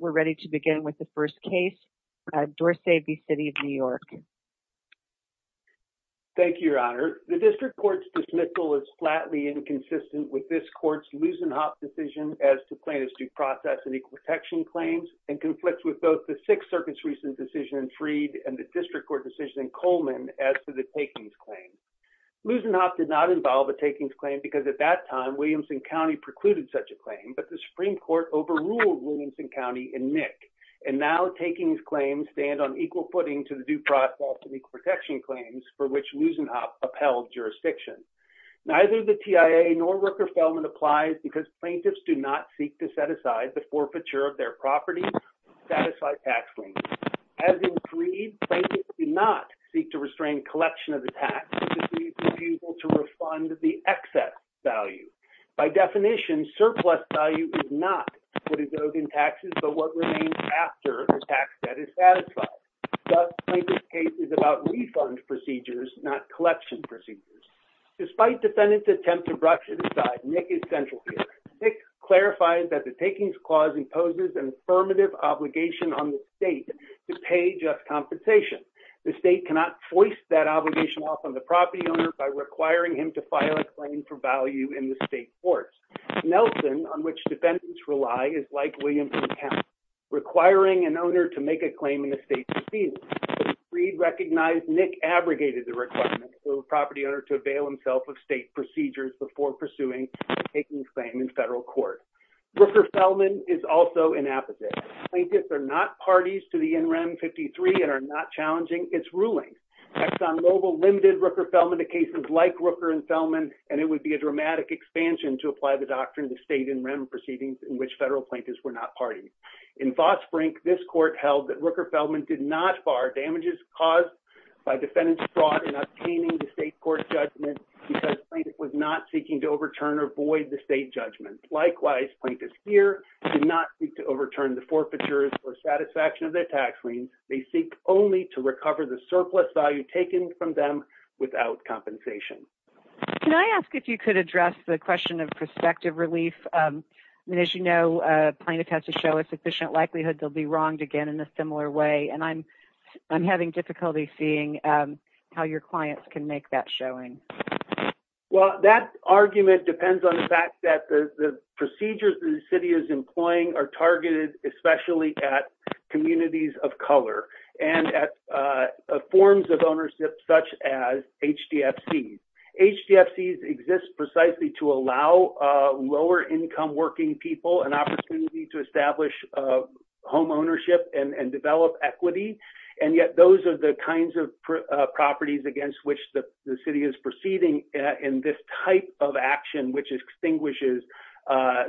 We're ready to begin with the first case, Dorce v. City of New York. Thank you, Your Honor. The district court's dismissal is flatly inconsistent with this court's Lusenhoff decision as to plaintiff's due process and equal protection claims, and conflicts with both the Sixth Circuit's recent decision in Freed and the district court decision in Coleman as to the takings claim. Lusenhoff did not involve a takings claim because at that time Williamson County precluded such a claim, but the Supreme Court overruled Williamson County and NIC, and now takings claims stand on equal footing to the due process and equal protection claims for which Lusenhoff upheld jurisdiction. Neither the TIA nor Rooker-Feldman applies because plaintiffs do not seek to set aside the forfeiture of their property to satisfy tax claims. As in Freed, plaintiffs do not seek to restrain collection of the tax to be able to refund the excess value. By definition, surplus value is not what is owed in taxes, but what remains after a tax debt is satisfied. Thus, plaintiff's case is about refund procedures, not collection procedures. Despite defendants' attempt to brush it aside, NIC is central here. NIC clarified that the takings clause imposes an affirmative obligation on the state to pay just compensation. The state cannot force that obligation off on the property owner by requiring him to file a claim for value in the state courts. Nelson, on which defendants rely, is like Williamson County, requiring an owner to make a claim in the state proceedings. As Freed recognized, NIC abrogated the requirement for the property owner to avail himself of state procedures before pursuing a takings claim in federal court. Rooker-Feldman is also inapposite. Plaintiffs are not parties to the NREM 53 and are not challenging its ruling. ExxonMobil limited Rooker-Feldman to cases like Rooker and Feldman, and it would be a dramatic expansion to apply the party. In Vosbrink, this court held that Rooker-Feldman did not bar damages caused by defendants' fraud in obtaining the state court judgment because plaintiff was not seeking to overturn or void the state judgment. Likewise, plaintiffs here did not seek to overturn the forfeitures or satisfaction of their tax lien. They seek only to recover the surplus value taken from them without compensation. Can I ask if you could address the question of prospective relief? As you know, plaintiffs have to show a sufficient likelihood they'll be wronged again in a similar way, and I'm having difficulty seeing how your clients can make that showing. Well, that argument depends on the fact that the procedures the city is employing are targeted especially at communities of color and at forms of ownership such as HDFCs. HDFCs exist precisely to allow lower-income working people an opportunity to establish homeownership and develop equity, and yet those are the kinds of properties against which the city is proceeding in this type of action which extinguishes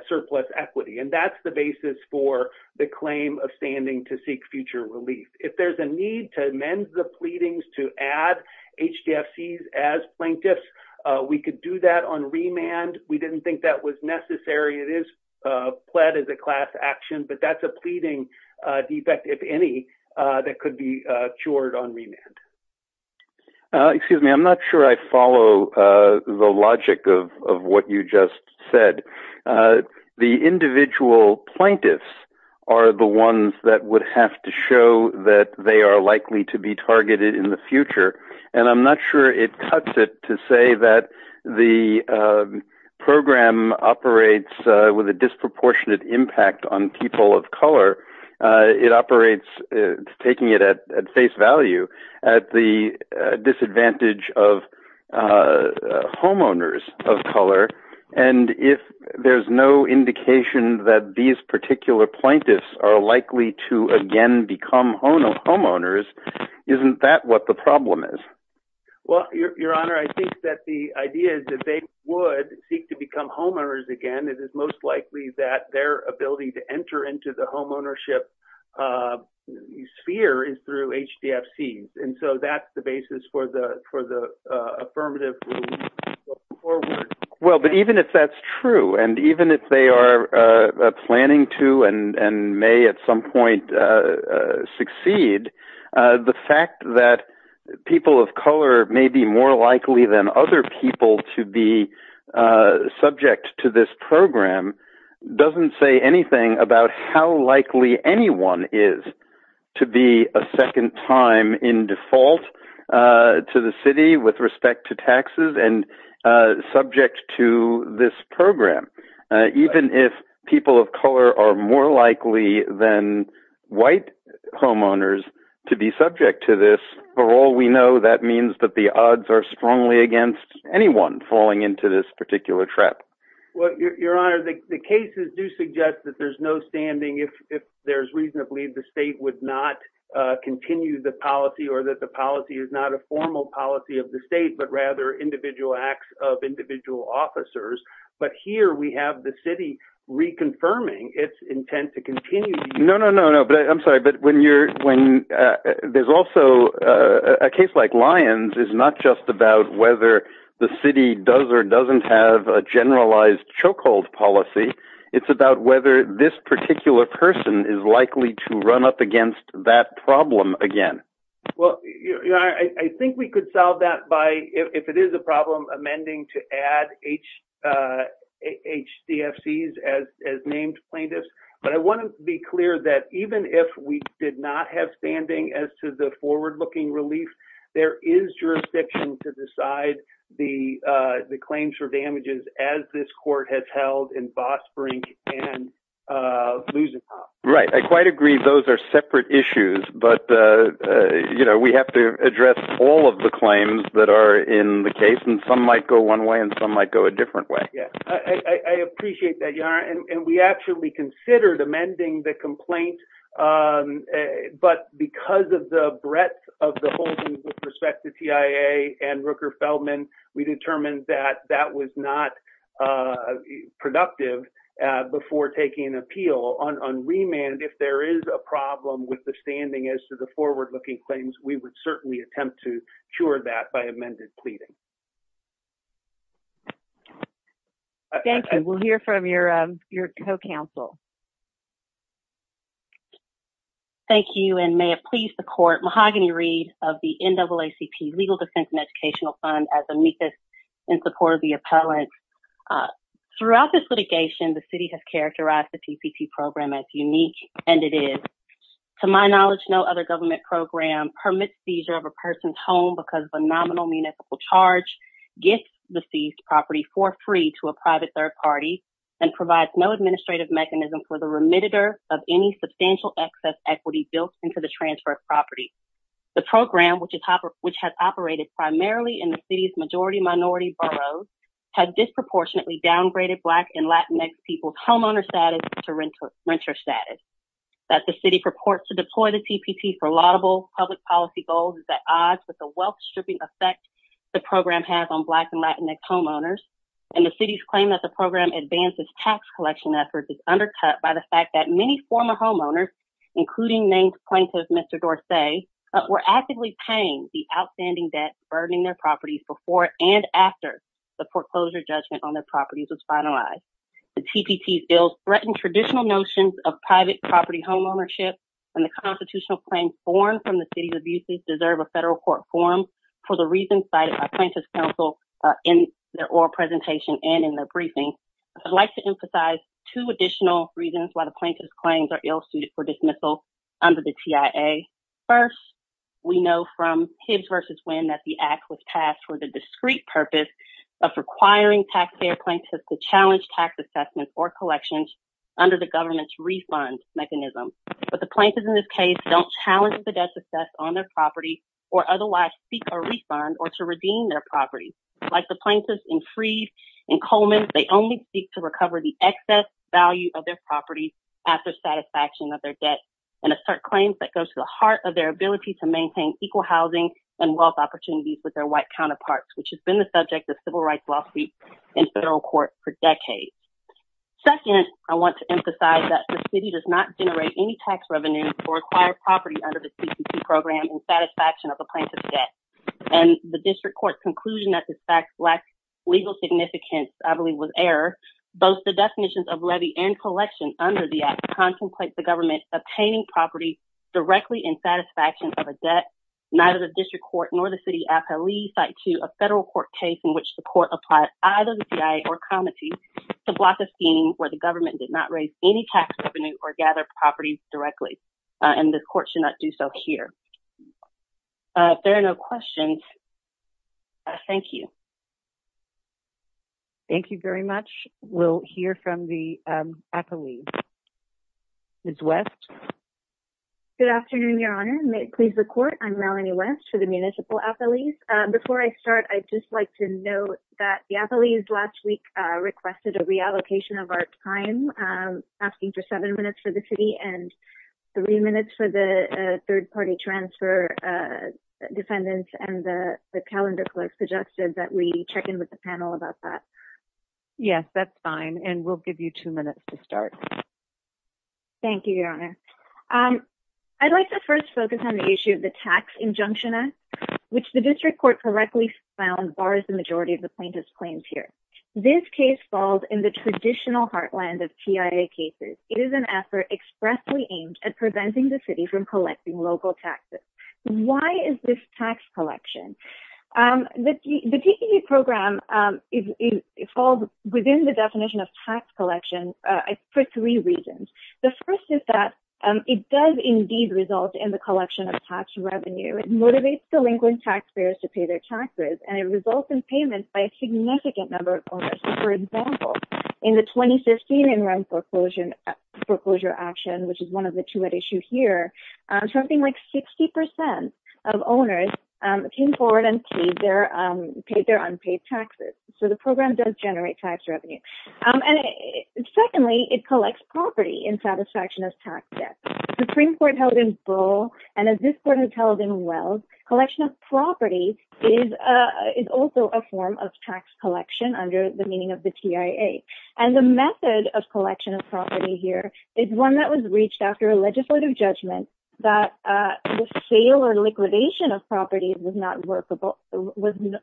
surplus equity, and that's the basis for the claim of standing to seek future relief. If there's a need to amend the pleadings to add HDFCs as plaintiffs, we could do that on remand. We didn't think that was necessary. It is pled as a class action, but that's a pleading defect, if any, that could be cured on remand. Excuse me, I'm not sure I follow the logic of what you just said. The individual plaintiffs are the ones that would have to show that they are to say that the program operates with a disproportionate impact on people of color. It operates, taking it at face value, at the disadvantage of homeowners of color, and if there's no indication that these particular plaintiffs are likely to again become homeowners, isn't that what the problem is? Well, your honor, I think that the idea is that they would seek to become homeowners again. It is most likely that their ability to enter into the homeownership sphere is through HDFCs, and so that's the basis for the affirmative. Well, but even if that's true, and even if they are planning to and may at some point succeed, the fact that people of color may be more likely than other people to be subject to this program doesn't say anything about how likely anyone is to be a second time in default to the city with respect to taxes and subject to this program. Even if people of color are more white homeowners to be subject to this, for all we know, that means that the odds are strongly against anyone falling into this particular trap. Well, your honor, the cases do suggest that there's no standing if there's reason to believe the state would not continue the policy or that the policy is not a formal policy of the state, but rather individual acts of individual officers. But here we have the city reconfirming its intent to continue. No, no, no, no, but I'm sorry, but when you're when there's also a case like Lyons is not just about whether the city does or doesn't have a generalized chokehold policy. It's about whether this particular person is likely to run up against that problem again. Well, I think we could solve that by if it is a problem amending to add HDFCs as named plaintiffs. But I want to be clear that even if we did not have standing as to the forward looking relief, there is jurisdiction to decide the claims for damages as this court has held in Fossbrink and Lusitano. Right. I quite agree those are separate issues, but, you know, we have to address all of the claims that are in the case and some might go one way and some might go a different way. Yeah, I appreciate that. And we actually considered amending the complaint. But because of the breadth of the holding with respect to TIA and Rooker Feldman, we determined that that was not productive before taking an remand. If there is a problem with the standing as to the forward looking claims, we would certainly attempt to cure that by amended pleading. Thank you. We'll hear from your co-counsel. Thank you and may it please the court. Mahogany Reed of the NAACP Legal Defense and Educational Fund as amicus in support of the appellant. Throughout this litigation, the city has as unique and it is. To my knowledge, no other government program permits seizure of a person's home because the nominal municipal charge gets the seized property for free to a private third party and provides no administrative mechanism for the remitted of any substantial excess equity built into the transfer of property. The program, which has operated primarily in the city's majority minority boroughs, has disproportionately downgraded Black and Latinx people's homeowner status to renter status. That the city purports to deploy the TPP for laudable public policy goals is at odds with the wealth stripping effect the program has on Black and Latinx homeowners. And the city's claim that the program advances tax collection efforts is undercut by the fact that many former homeowners, including named plaintiff Mr. Dorsey, were actively paying the outstanding debt burdening their properties before and after the foreclosure judgment on threatened traditional notions of private property homeownership and the constitutional claims formed from the city's abuses deserve a federal court forum for the reasons cited by plaintiff's counsel in their oral presentation and in their briefing. I'd like to emphasize two additional reasons why the plaintiff's claims are ill-suited for dismissal under the TIA. First, we know from Hibbs v. Winn that the act was passed for the discrete purpose of requiring taxpayer plaintiffs to challenge tax assessments or collections under the government's refund mechanism. But the plaintiffs in this case don't challenge the debt success on their property or otherwise seek a refund or to redeem their property. Like the plaintiffs in Freed and Coleman, they only seek to recover the excess value of their property after satisfaction of their debt and assert claims that go to the heart of their ability to maintain equal and wealth opportunities with their white counterparts, which has been the subject of civil rights lawsuits in federal court for decades. Second, I want to emphasize that the city does not generate any tax revenue or acquire property under the CCC program in satisfaction of a plaintiff's debt. And the district court's conclusion that this fact lacks legal significance, I believe, was error. Both the definitions of levy and collection under the act contemplate the district court nor the city site to a federal court case in which the court applied either the TIA or comity to block a scheme where the government did not raise any tax revenue or gather properties directly. And the court should not do so here. If there are no questions, thank you. Thank you very much. We'll hear from the appellee. Ms. West. Good afternoon, Your Honor. May it please the court. I'm Melanie West for the Municipal Appellees. Before I start, I'd just like to note that the appellees last week requested a reallocation of our time, asking for seven minutes for the city and three minutes for the third party transfer defendants and the calendar clerk suggested that we check in with the panel about that. Yes, that's fine. And we'll give you two minutes to start. Thank you, Your Honor. I'd like to first focus on the issue of the tax injunction, which the district court correctly found bars the majority of the plaintiff's claims here. This case falls in the traditional heartland of TIA cases. It is an effort expressly aimed at preventing the city from collecting local taxes. Why is this tax collection? The TPP program is within the definition of tax collection for three reasons. The first is that it does indeed result in the collection of tax revenue. It motivates delinquent taxpayers to pay their taxes and it results in payments by a significant number of owners. For example, in the 2015 in rent foreclosure action, which is one of the two at issue here, something like 60% of owners came forward and paid their unpaid taxes. So the program does generate tax revenue. And secondly, it collects property in satisfaction of tax debt. Supreme Court held in Brawl and as this court has held in Wells, collection of property is also a form of tax collection under the meaning of the TIA. And the method of collection of property here is one that was reached after a legislative judgment that the sale or liquidation of properties was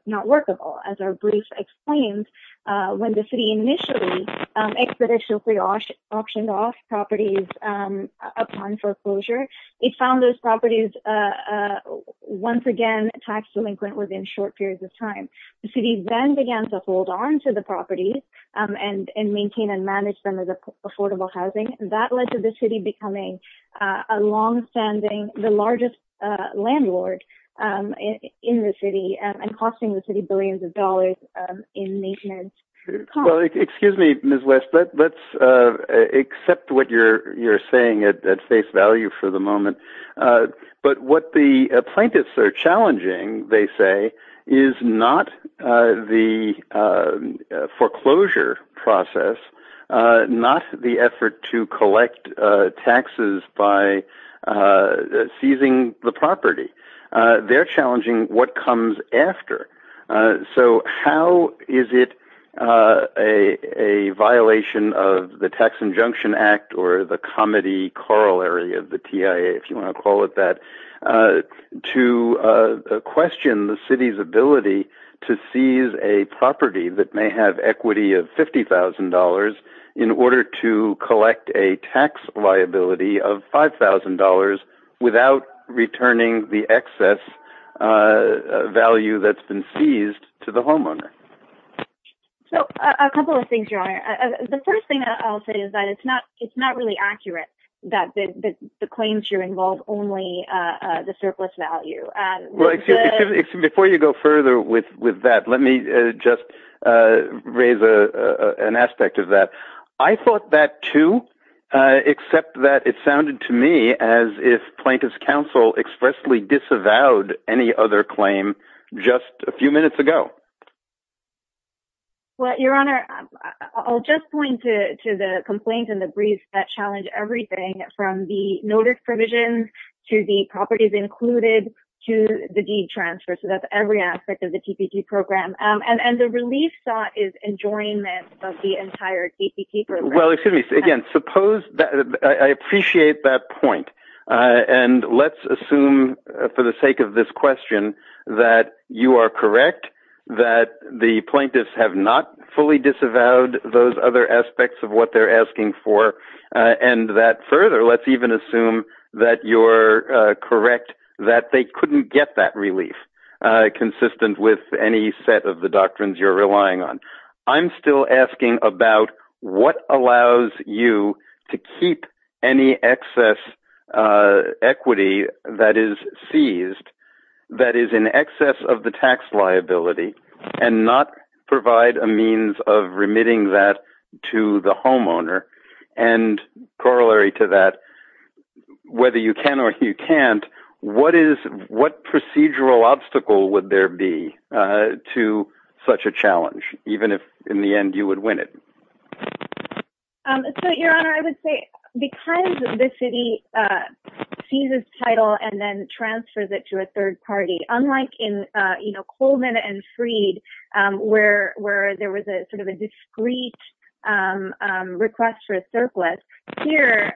not workable. As our brief explains, when the city initially expeditiously auctioned off properties upon foreclosure, it found those properties once again tax delinquent within short periods of time. The city then began to hold on to the property and maintain and manage them as affordable housing. That led to the city becoming a longstanding, the largest landlord in the city and costing the city billions of dollars in maintenance. Well, excuse me, Ms. West, but let's accept what you're saying at face value for the moment. But what the plaintiffs are challenging, they say, is not the foreclosure process, not the effort to collect taxes by seizing the property. They're challenging what comes after. So how is it a violation of the Tax Injunction Act or the ability to seize a property that may have equity of $50,000 in order to collect a tax liability of $5,000 without returning the excess value that's been seized to the homeowner? So a couple of things, Your Honor. The first thing that I'll say is that it's not really accurate that the claims here involve only the surplus value. Before you go further with that, let me just raise an aspect of that. I thought that too, except that it sounded to me as if Plaintiffs' Counsel expressly disavowed any other claim just a few minutes ago. Well, Your Honor, I'll just point to the complaints and the briefs that challenge everything from the notice provisions to the properties included to the deed transfer. So that's every aspect of the TPP program. And the relief thought is enjoyment of the entire TPP program. Well, excuse me. Again, I appreciate that point. And let's assume for the sake of this question that you are correct that the plaintiffs have not fully disavowed those other aspects of what they're asking for. And that further, let's even assume that you're correct that they couldn't get that relief consistent with any set of the doctrines you're relying on. I'm still asking about what allows you to keep any excess equity that is seized that is in excess of the tax liability and not provide a means of remitting that to the homeowner. And corollary to that, whether you can or you can't, what procedural obstacle would there be to such a challenge, even if in the end you would win it? So, Your Honor, I would say because the city seizes title and then transfers it to a third party, unlike in Colvin and Freed, where there was a sort of a discreet request for a surplus. Here,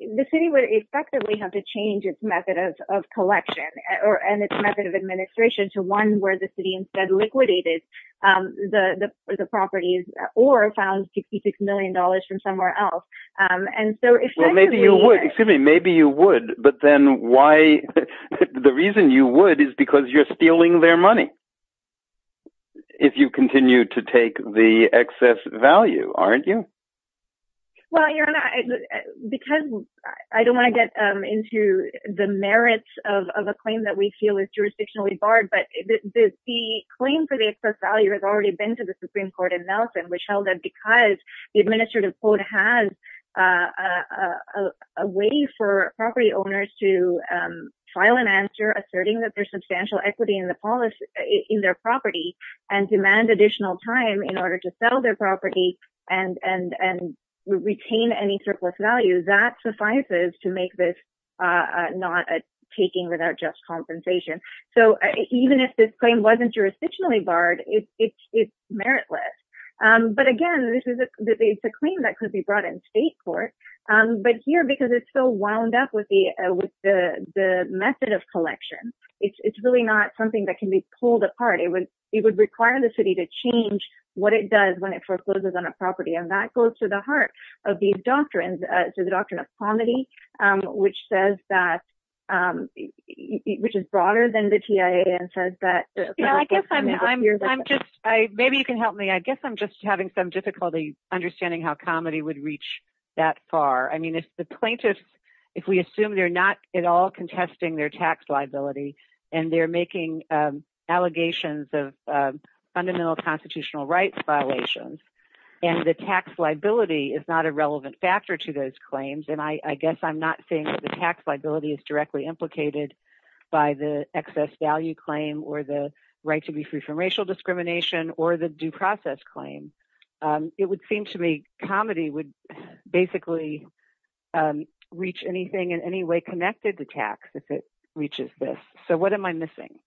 the city would effectively have to change its method of collection and its method of administration to one where the city instead liquidated the properties or found $66 million from somewhere else. And so, maybe you would, excuse me, maybe you would, but then why, the reason you would is because you're stealing their money. If you continue to take the excess value, aren't you? Well, Your Honor, because I don't want to get into the merits of a claim that we feel is jurisdictionally barred, but the claim for the excess value has already been to the Supreme Court in Nelson, which held that because the administrative code has a way for property owners to file an answer asserting that there's substantial equity in their property and demand additional time in order to sell their property and retain any surplus value, that suffices to make this not a taking without just compensation. So, even if this claim wasn't jurisdictionally barred, it's meritless. But again, it's a claim that could be brought in state court, but here, because it's still wound up with the method of collection, it's really not something that can be pulled apart. It would require the city to change what it does when it forecloses on a property, and that goes to the heart of these doctrines, to the doctrine of comity, which says that, which is broader than the TIA and says that... Maybe you can help me. I guess I'm just having some difficulty understanding how comity would reach that far. I mean, if the plaintiffs, if we assume they're not at all contesting their tax liability, and they're making allegations of fundamental constitutional rights violations, and the tax liability is not a relevant factor to those claims, and I guess I'm not saying that the tax liability is directly implicated by the excess value claim or the right to be free from racial discrimination or the due process claim. It would seem to me comity would basically reach anything in any way connected to tax if it reaches this. So what am I missing?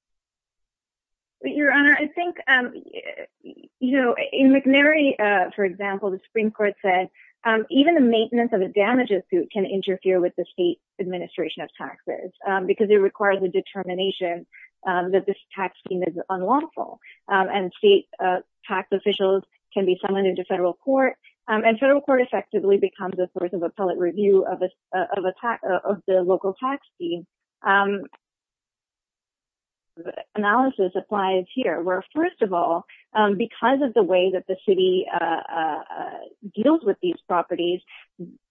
Your Honor, I think in McNary, for example, the Supreme Court said even the maintenance of a damages suit can interfere with the state administration of taxes because it requires a determination that this tax scheme is unlawful, and state tax officials can be summoned into federal court, and federal court effectively becomes a source of appellate review of the local tax scheme. Analysis applies here, where first of all, because of the way that the city deals with these properties,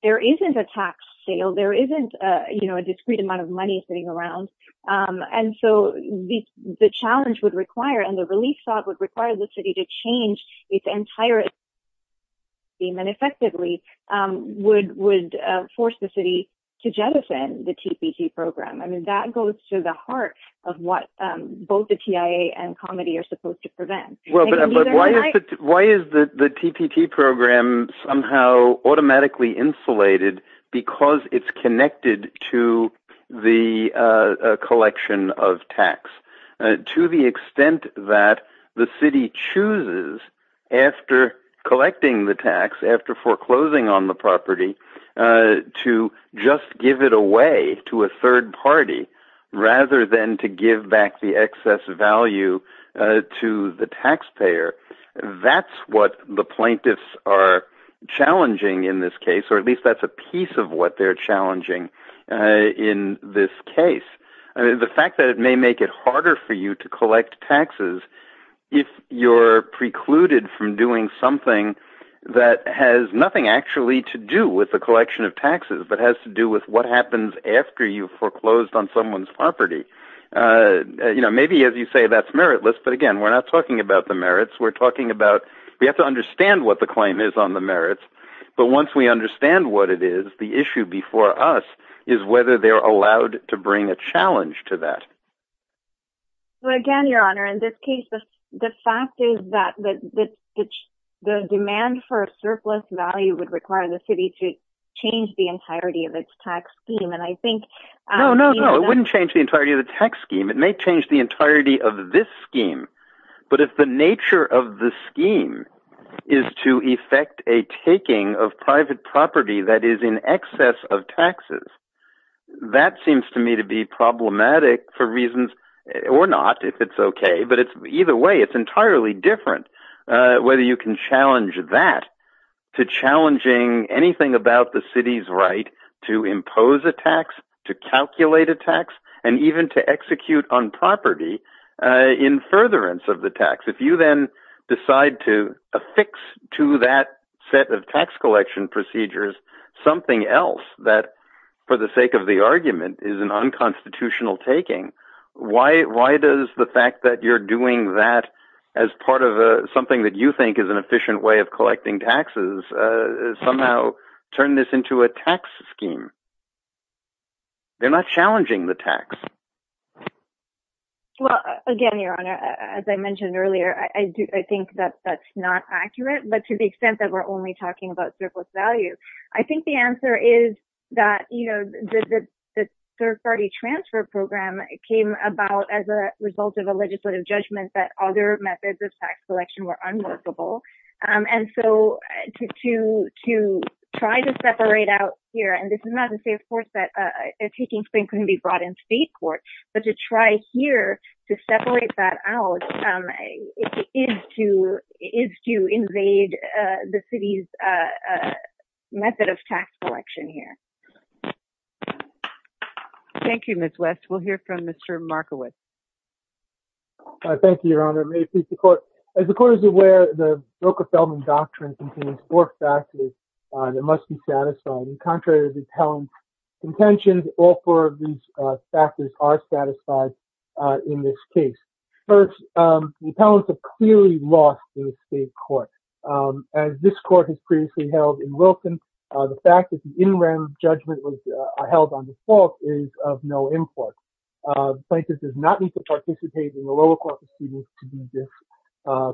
there isn't a tax sale, there isn't a discrete amount of money sitting around, and so the challenge would require and the relief thought would require the city to its entire tax scheme and effectively would force the city to jettison the TPP program. I mean, that goes to the heart of what both the TIA and comity are supposed to prevent. Why is the TPP program somehow automatically insulated because it's connected to the collection of tax? To the extent that the city chooses, after collecting the tax, after foreclosing on the property, to just give it away to a third party rather than to give back the excess value to the taxpayer, that's what the plaintiffs are challenging in this case, or at the fact that it may make it harder for you to collect taxes if you're precluded from doing something that has nothing actually to do with the collection of taxes but has to do with what happens after you've foreclosed on someone's property. You know, maybe as you say, that's meritless, but again, we're not talking about the merits, we're talking about we have to understand what the claim is on the merits, but once we understand what it is, the issue before us is whether they're allowed to bring a challenge to that. So again, your honor, in this case, the fact is that the demand for a surplus value would require the city to change the entirety of its tax scheme, and I think... No, no, no, it wouldn't change the entirety of the tax scheme. It may change the entirety of this scheme, but if the nature of the scheme is to effect a taking of private property that is in excess of taxes, that seems to me to be problematic for reasons, or not, if it's okay, but it's either way, it's entirely different whether you can challenge that to challenging anything about the city's right to impose a tax, to calculate a tax, and even to execute on property in furtherance of the tax. If you then decide to affix to that set of tax collection procedures something else that, for the sake of the argument, is an unconstitutional taking, why does the fact that you're doing that as part of something that you think is an efficient way of collecting taxes somehow turn this into a tax scheme? They're not challenging the tax. Well, again, your honor, as I mentioned earlier, I think that that's not accurate, but to the extent that we're only talking about surplus value, I think the answer is that, you know, the third party transfer program came about as a result of a legislative judgment that other methods of tax collection were unworkable, and so to try to separate out here, and this is not to say, of course, that a taking scheme couldn't be brought in state court, but to try here to invade the city's method of tax collection here. Thank you, Ms. West. We'll hear from Mr. Markowitz. Thank you, your honor. May it please the court. As the court is aware, the Broker-Feldman Doctrine contains four factors that must be satisfied, and contrary to the appellant's contentions, all four of these factors are satisfied in this case. First, the appellants have clearly lost state court. As this court has previously held in Wilson, the fact that the in-rem judgment was held on default is of no import. The plaintiff does not need to participate in the lower court proceedings to be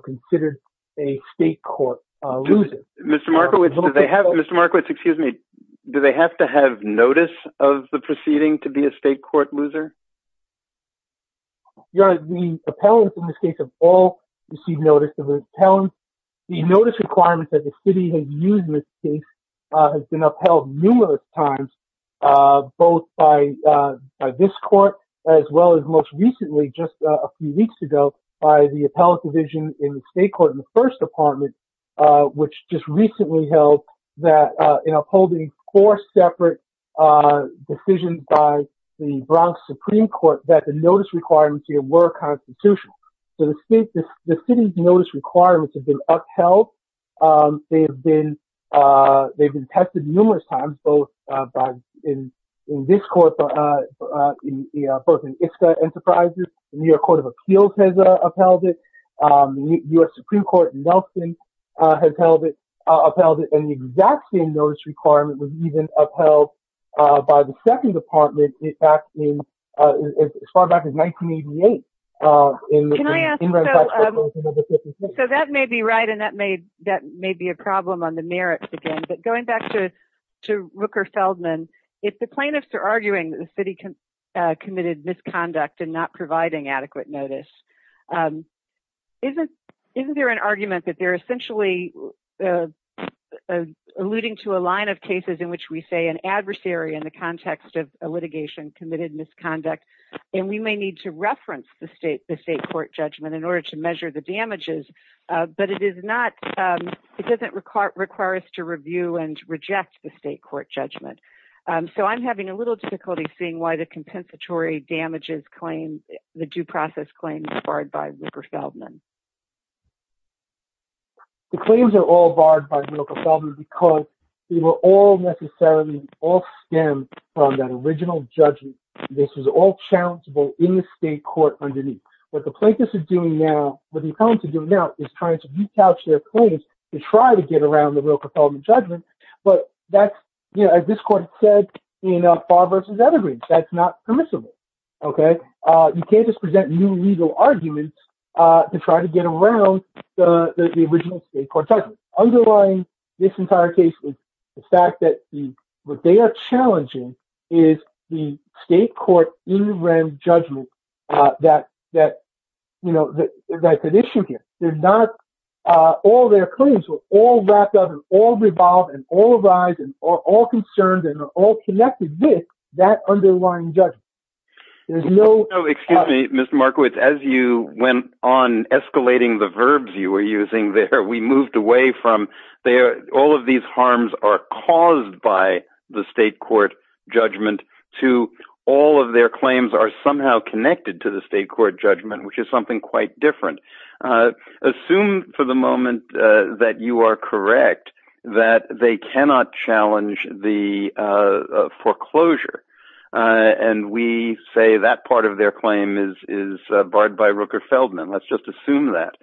considered a state court loser. Mr. Markowitz, do they have, Mr. Markowitz, excuse me, do they have to have notice of the proceeding to be a state court loser? Your honor, the appellants in this case have all received notice of their talents. The notice requirements that the city has used in this case has been upheld numerous times, both by this court as well as most recently, just a few weeks ago, by the appellant division in the state court in the first department, which just recently held that in upholding four separate decisions by the Bronx Supreme Court that the notice requirements here were constitutional. So the city's notice requirements have been upheld. They've been tested numerous times, both in this court, both in ISCA Enterprises, the New York Court of Appeals has upheld it, U.S. Supreme Court in Nelson has upheld it, and the exact same notice requirement was even upheld by the second department as far back as 1988. So that may be right, and that may be a problem on the merits again, but going back to Rooker Feldman, if the plaintiffs are arguing that the city committed misconduct and not providing adequate notice, isn't there an argument that essentially alluding to a line of cases in which we say an adversary in the context of a litigation committed misconduct, and we may need to reference the state court judgment in order to measure the damages, but it doesn't require us to review and reject the state court judgment. So I'm having a little difficulty seeing why the compensatory damages claim, the due process claim is barred by Rooker Feldman. The claims are all barred by Rooker Feldman because they were all necessarily all stemmed from that original judgment. This was all challengeable in the state court underneath. What the plaintiffs are doing now, what the appellants are doing now is trying to re-couch their claims to try to get around the Rooker Feldman judgment, but that's, you know, as this said in Farr v. Evergreen, that's not permissible, okay? You can't just present new legal arguments to try to get around the original state court judgment. Underlying this entire case is the fact that what they are challenging is the state court interim judgment that, you know, that's at issue here. They're not, all their claims were all wrapped up and all revolved and all concerned and all connected with that underlying judgment. There's no... No, excuse me, Mr. Markowitz, as you went on escalating the verbs you were using there, we moved away from all of these harms are caused by the state court judgment to all of their claims are somehow connected to the state court judgment, which is something quite different. Assume for the challenge the foreclosure and we say that part of their claim is barred by Rooker Feldman. Let's just assume that.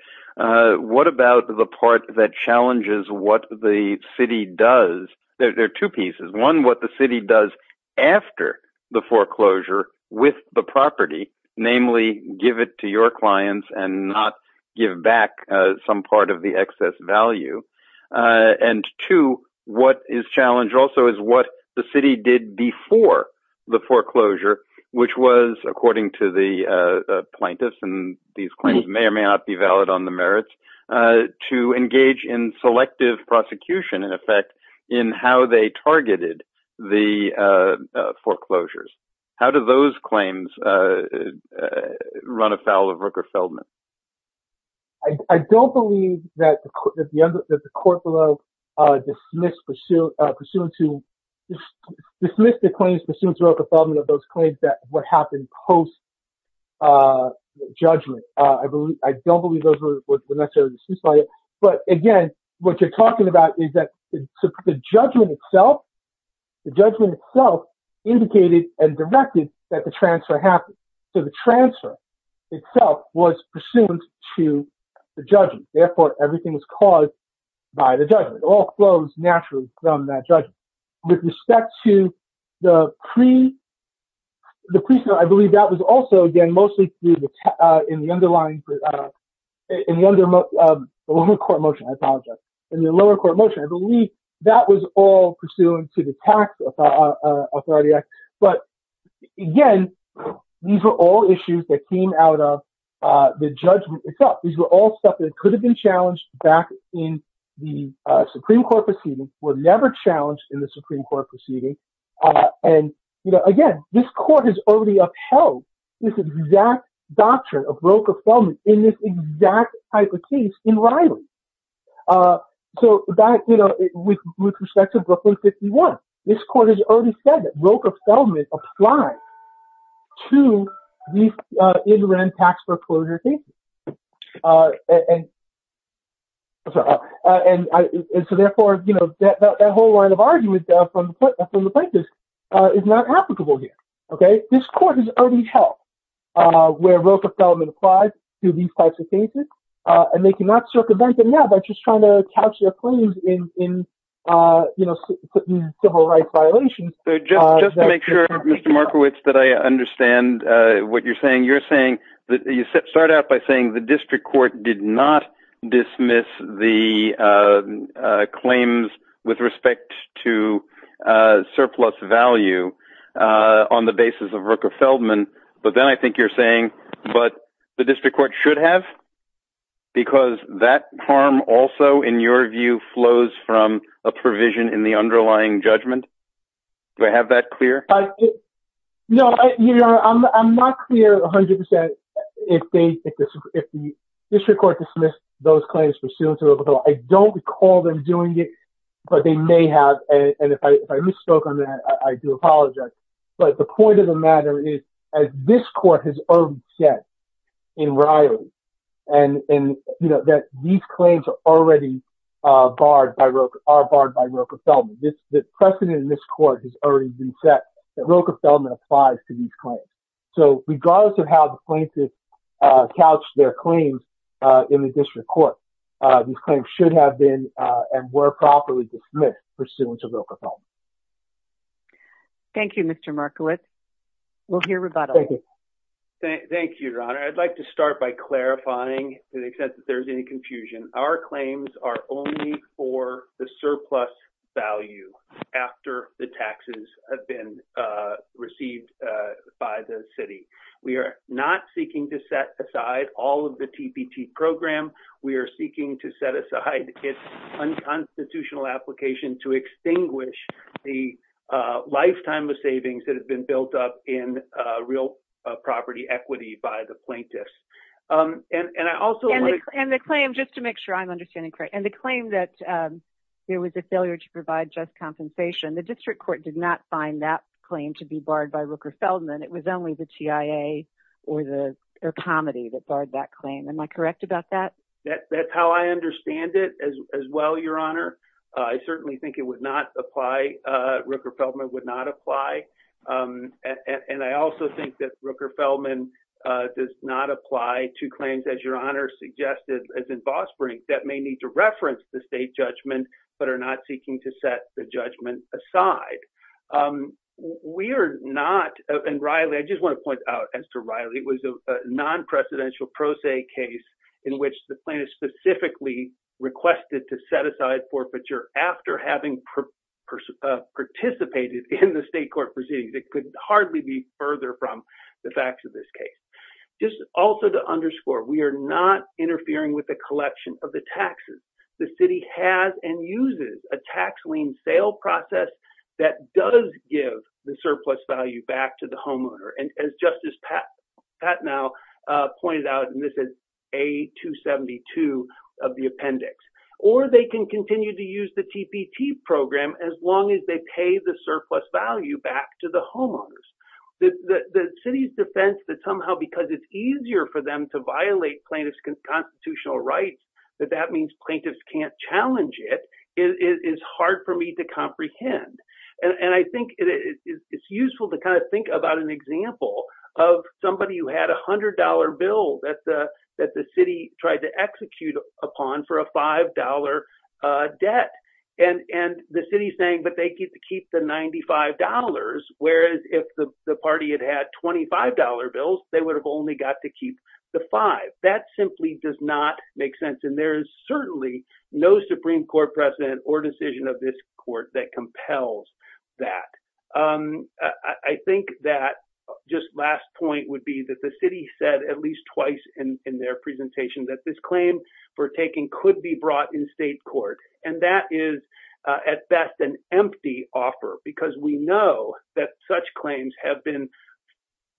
What about the part that challenges what the city does? There are two pieces. One, what the city does after the foreclosure with the property, namely give it to your clients and not give back some part of the excess value. And two, what is challenged also is what the city did before the foreclosure, which was according to the plaintiffs and these claims may or may not be valid on the merits to engage in selective prosecution in effect in how they Rooker Feldman. I don't believe that the court will dismiss the claims pursuant to Rooker Feldman of those claims that would happen post-judgment. I don't believe those were necessarily dismissed. But again, what you're talking about is that the judgment itself indicated and directed that the transfer happened. So the transfer itself was pursuant to the judges. Therefore, everything was caused by the judgment. It all flows naturally from that judgment. With respect to the pre-trial, I believe that was also again mostly in the underlying court motion. I apologize. In the lower court motion, I believe that was all pursuant to the judgment. Again, these were all issues that came out of the judgment itself. These were all stuff that could have been challenged back in the Supreme Court proceedings, were never challenged in the Supreme Court proceedings. And again, this court has already upheld this exact doctrine of Rooker Feldman in this exact type of case in Riley. So with respect to Brooklyn 51, this court has already said that Rooker Feldman applies to these in-ran tax foreclosure cases. So therefore, that whole line of argument from the plaintiffs is not applicable here. This court has already held where Rooker Feldman applies to these types of cases. And they cannot circumvent that. They're just trying to couch their claims in civil rights violations. So just to make sure, Mr. Markowitz, that I understand what you're saying, you're saying that you start out by saying the district court did not dismiss the claims with respect to surplus value on the basis of Rooker Feldman. But then I think you're saying, but the district court should have, because that harm also, in your view, flows from a provision in the underlying judgment. Do I have that clear? No, I'm not clear 100% if the district court dismissed those claims pursuant to Rooker Feldman. I don't recall them doing it, but they may have. And if I misspoke on that, I do apologize. But the point of the matter is, as this court has already said in Riley, that these claims are barred by Rooker Feldman. The precedent in this court has already been set that Rooker Feldman applies to these claims. So regardless of how the plaintiffs couch their claims in the district court, these claims should have been and were properly dismissed pursuant to Rooker Feldman. Thank you, Mr. Markowitz. We'll hear rebuttal. Thank you, Your Honor. I'd like to start by clarifying to the extent that there's any confusion. Our claims are only for the surplus value after the taxes have been received by the city. We are not seeking to set aside all of the TPP program. We are seeking to set aside its unconstitutional application to extinguish the lifetime of savings that has been built up in real property equity by the plaintiffs. And I also want to... And the claim, just to make sure I'm understanding correct, and the claim that there was a failure to provide just compensation, the district court did not find that claim to be barred by Rooker Feldman. It was only the TIA or the comedy that barred that claim. Am I correct about that? That's how I understand it as well, Your Honor. I certainly think it would not apply, Rooker Feldman would not apply. And I also think that Rooker Feldman does not apply to claims, as Your Honor suggested, as in Boss Springs, that may need to reference the state judgment, but are not seeking to set the judgment aside. We are not... And Riley, I just want to point out, as to Riley, it was a non-precedential pro se case in which the plaintiff specifically requested to set aside forfeiture after having participated in the state court proceedings. It could hardly be further from the facts of this case. Just also to underscore, we are not interfering with the collection of the taxes. The city has and uses a tax lien sale process that does give the surplus value back to the homeowner. And as Justice Patnow pointed out, and this is A272 of the appendix, or they can continue to use the TPT program as long as they pay the surplus value back to the homeowners. The city's defense that somehow because it's easier for them to violate plaintiff's constitutional rights, that that means plaintiffs can't challenge it, is hard for me to comprehend. And I think it's useful to kind of think about an example of somebody who had a $100 bill that the city tried to execute upon for a $5 debt. And the city's saying, but they get to keep the $95, whereas if the party had had $25 bills, they would have only got to keep the five. That simply does not make sense. And there is certainly no Supreme Court precedent or decision of this court that compels that. I think that just last point would be that the city said at least twice in their presentation that this claim for taking could be brought in state court. And that is at best an empty offer because we know that such claims have been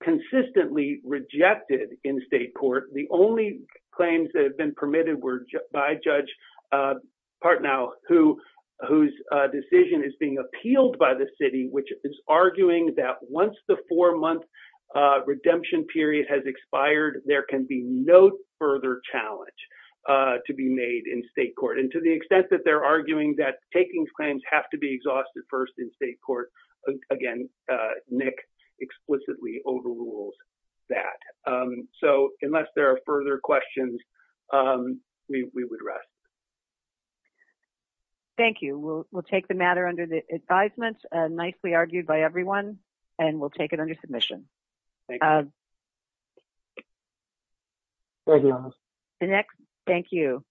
consistently rejected in state court. The only claims that have been permitted by Judge Partnow, whose decision is being appealed by the city, which is arguing that once the four-month redemption period has expired, there can be no further challenge to be made in state court. And to the extent that they're arguing that taking claims have to be exhausted first in state court, again, Nick explicitly overrules that. So unless there are further questions, we would rest. Thank you. We'll take the matter under the advisement, nicely argued by everyone, and we'll take it under submission. The next... Thank you.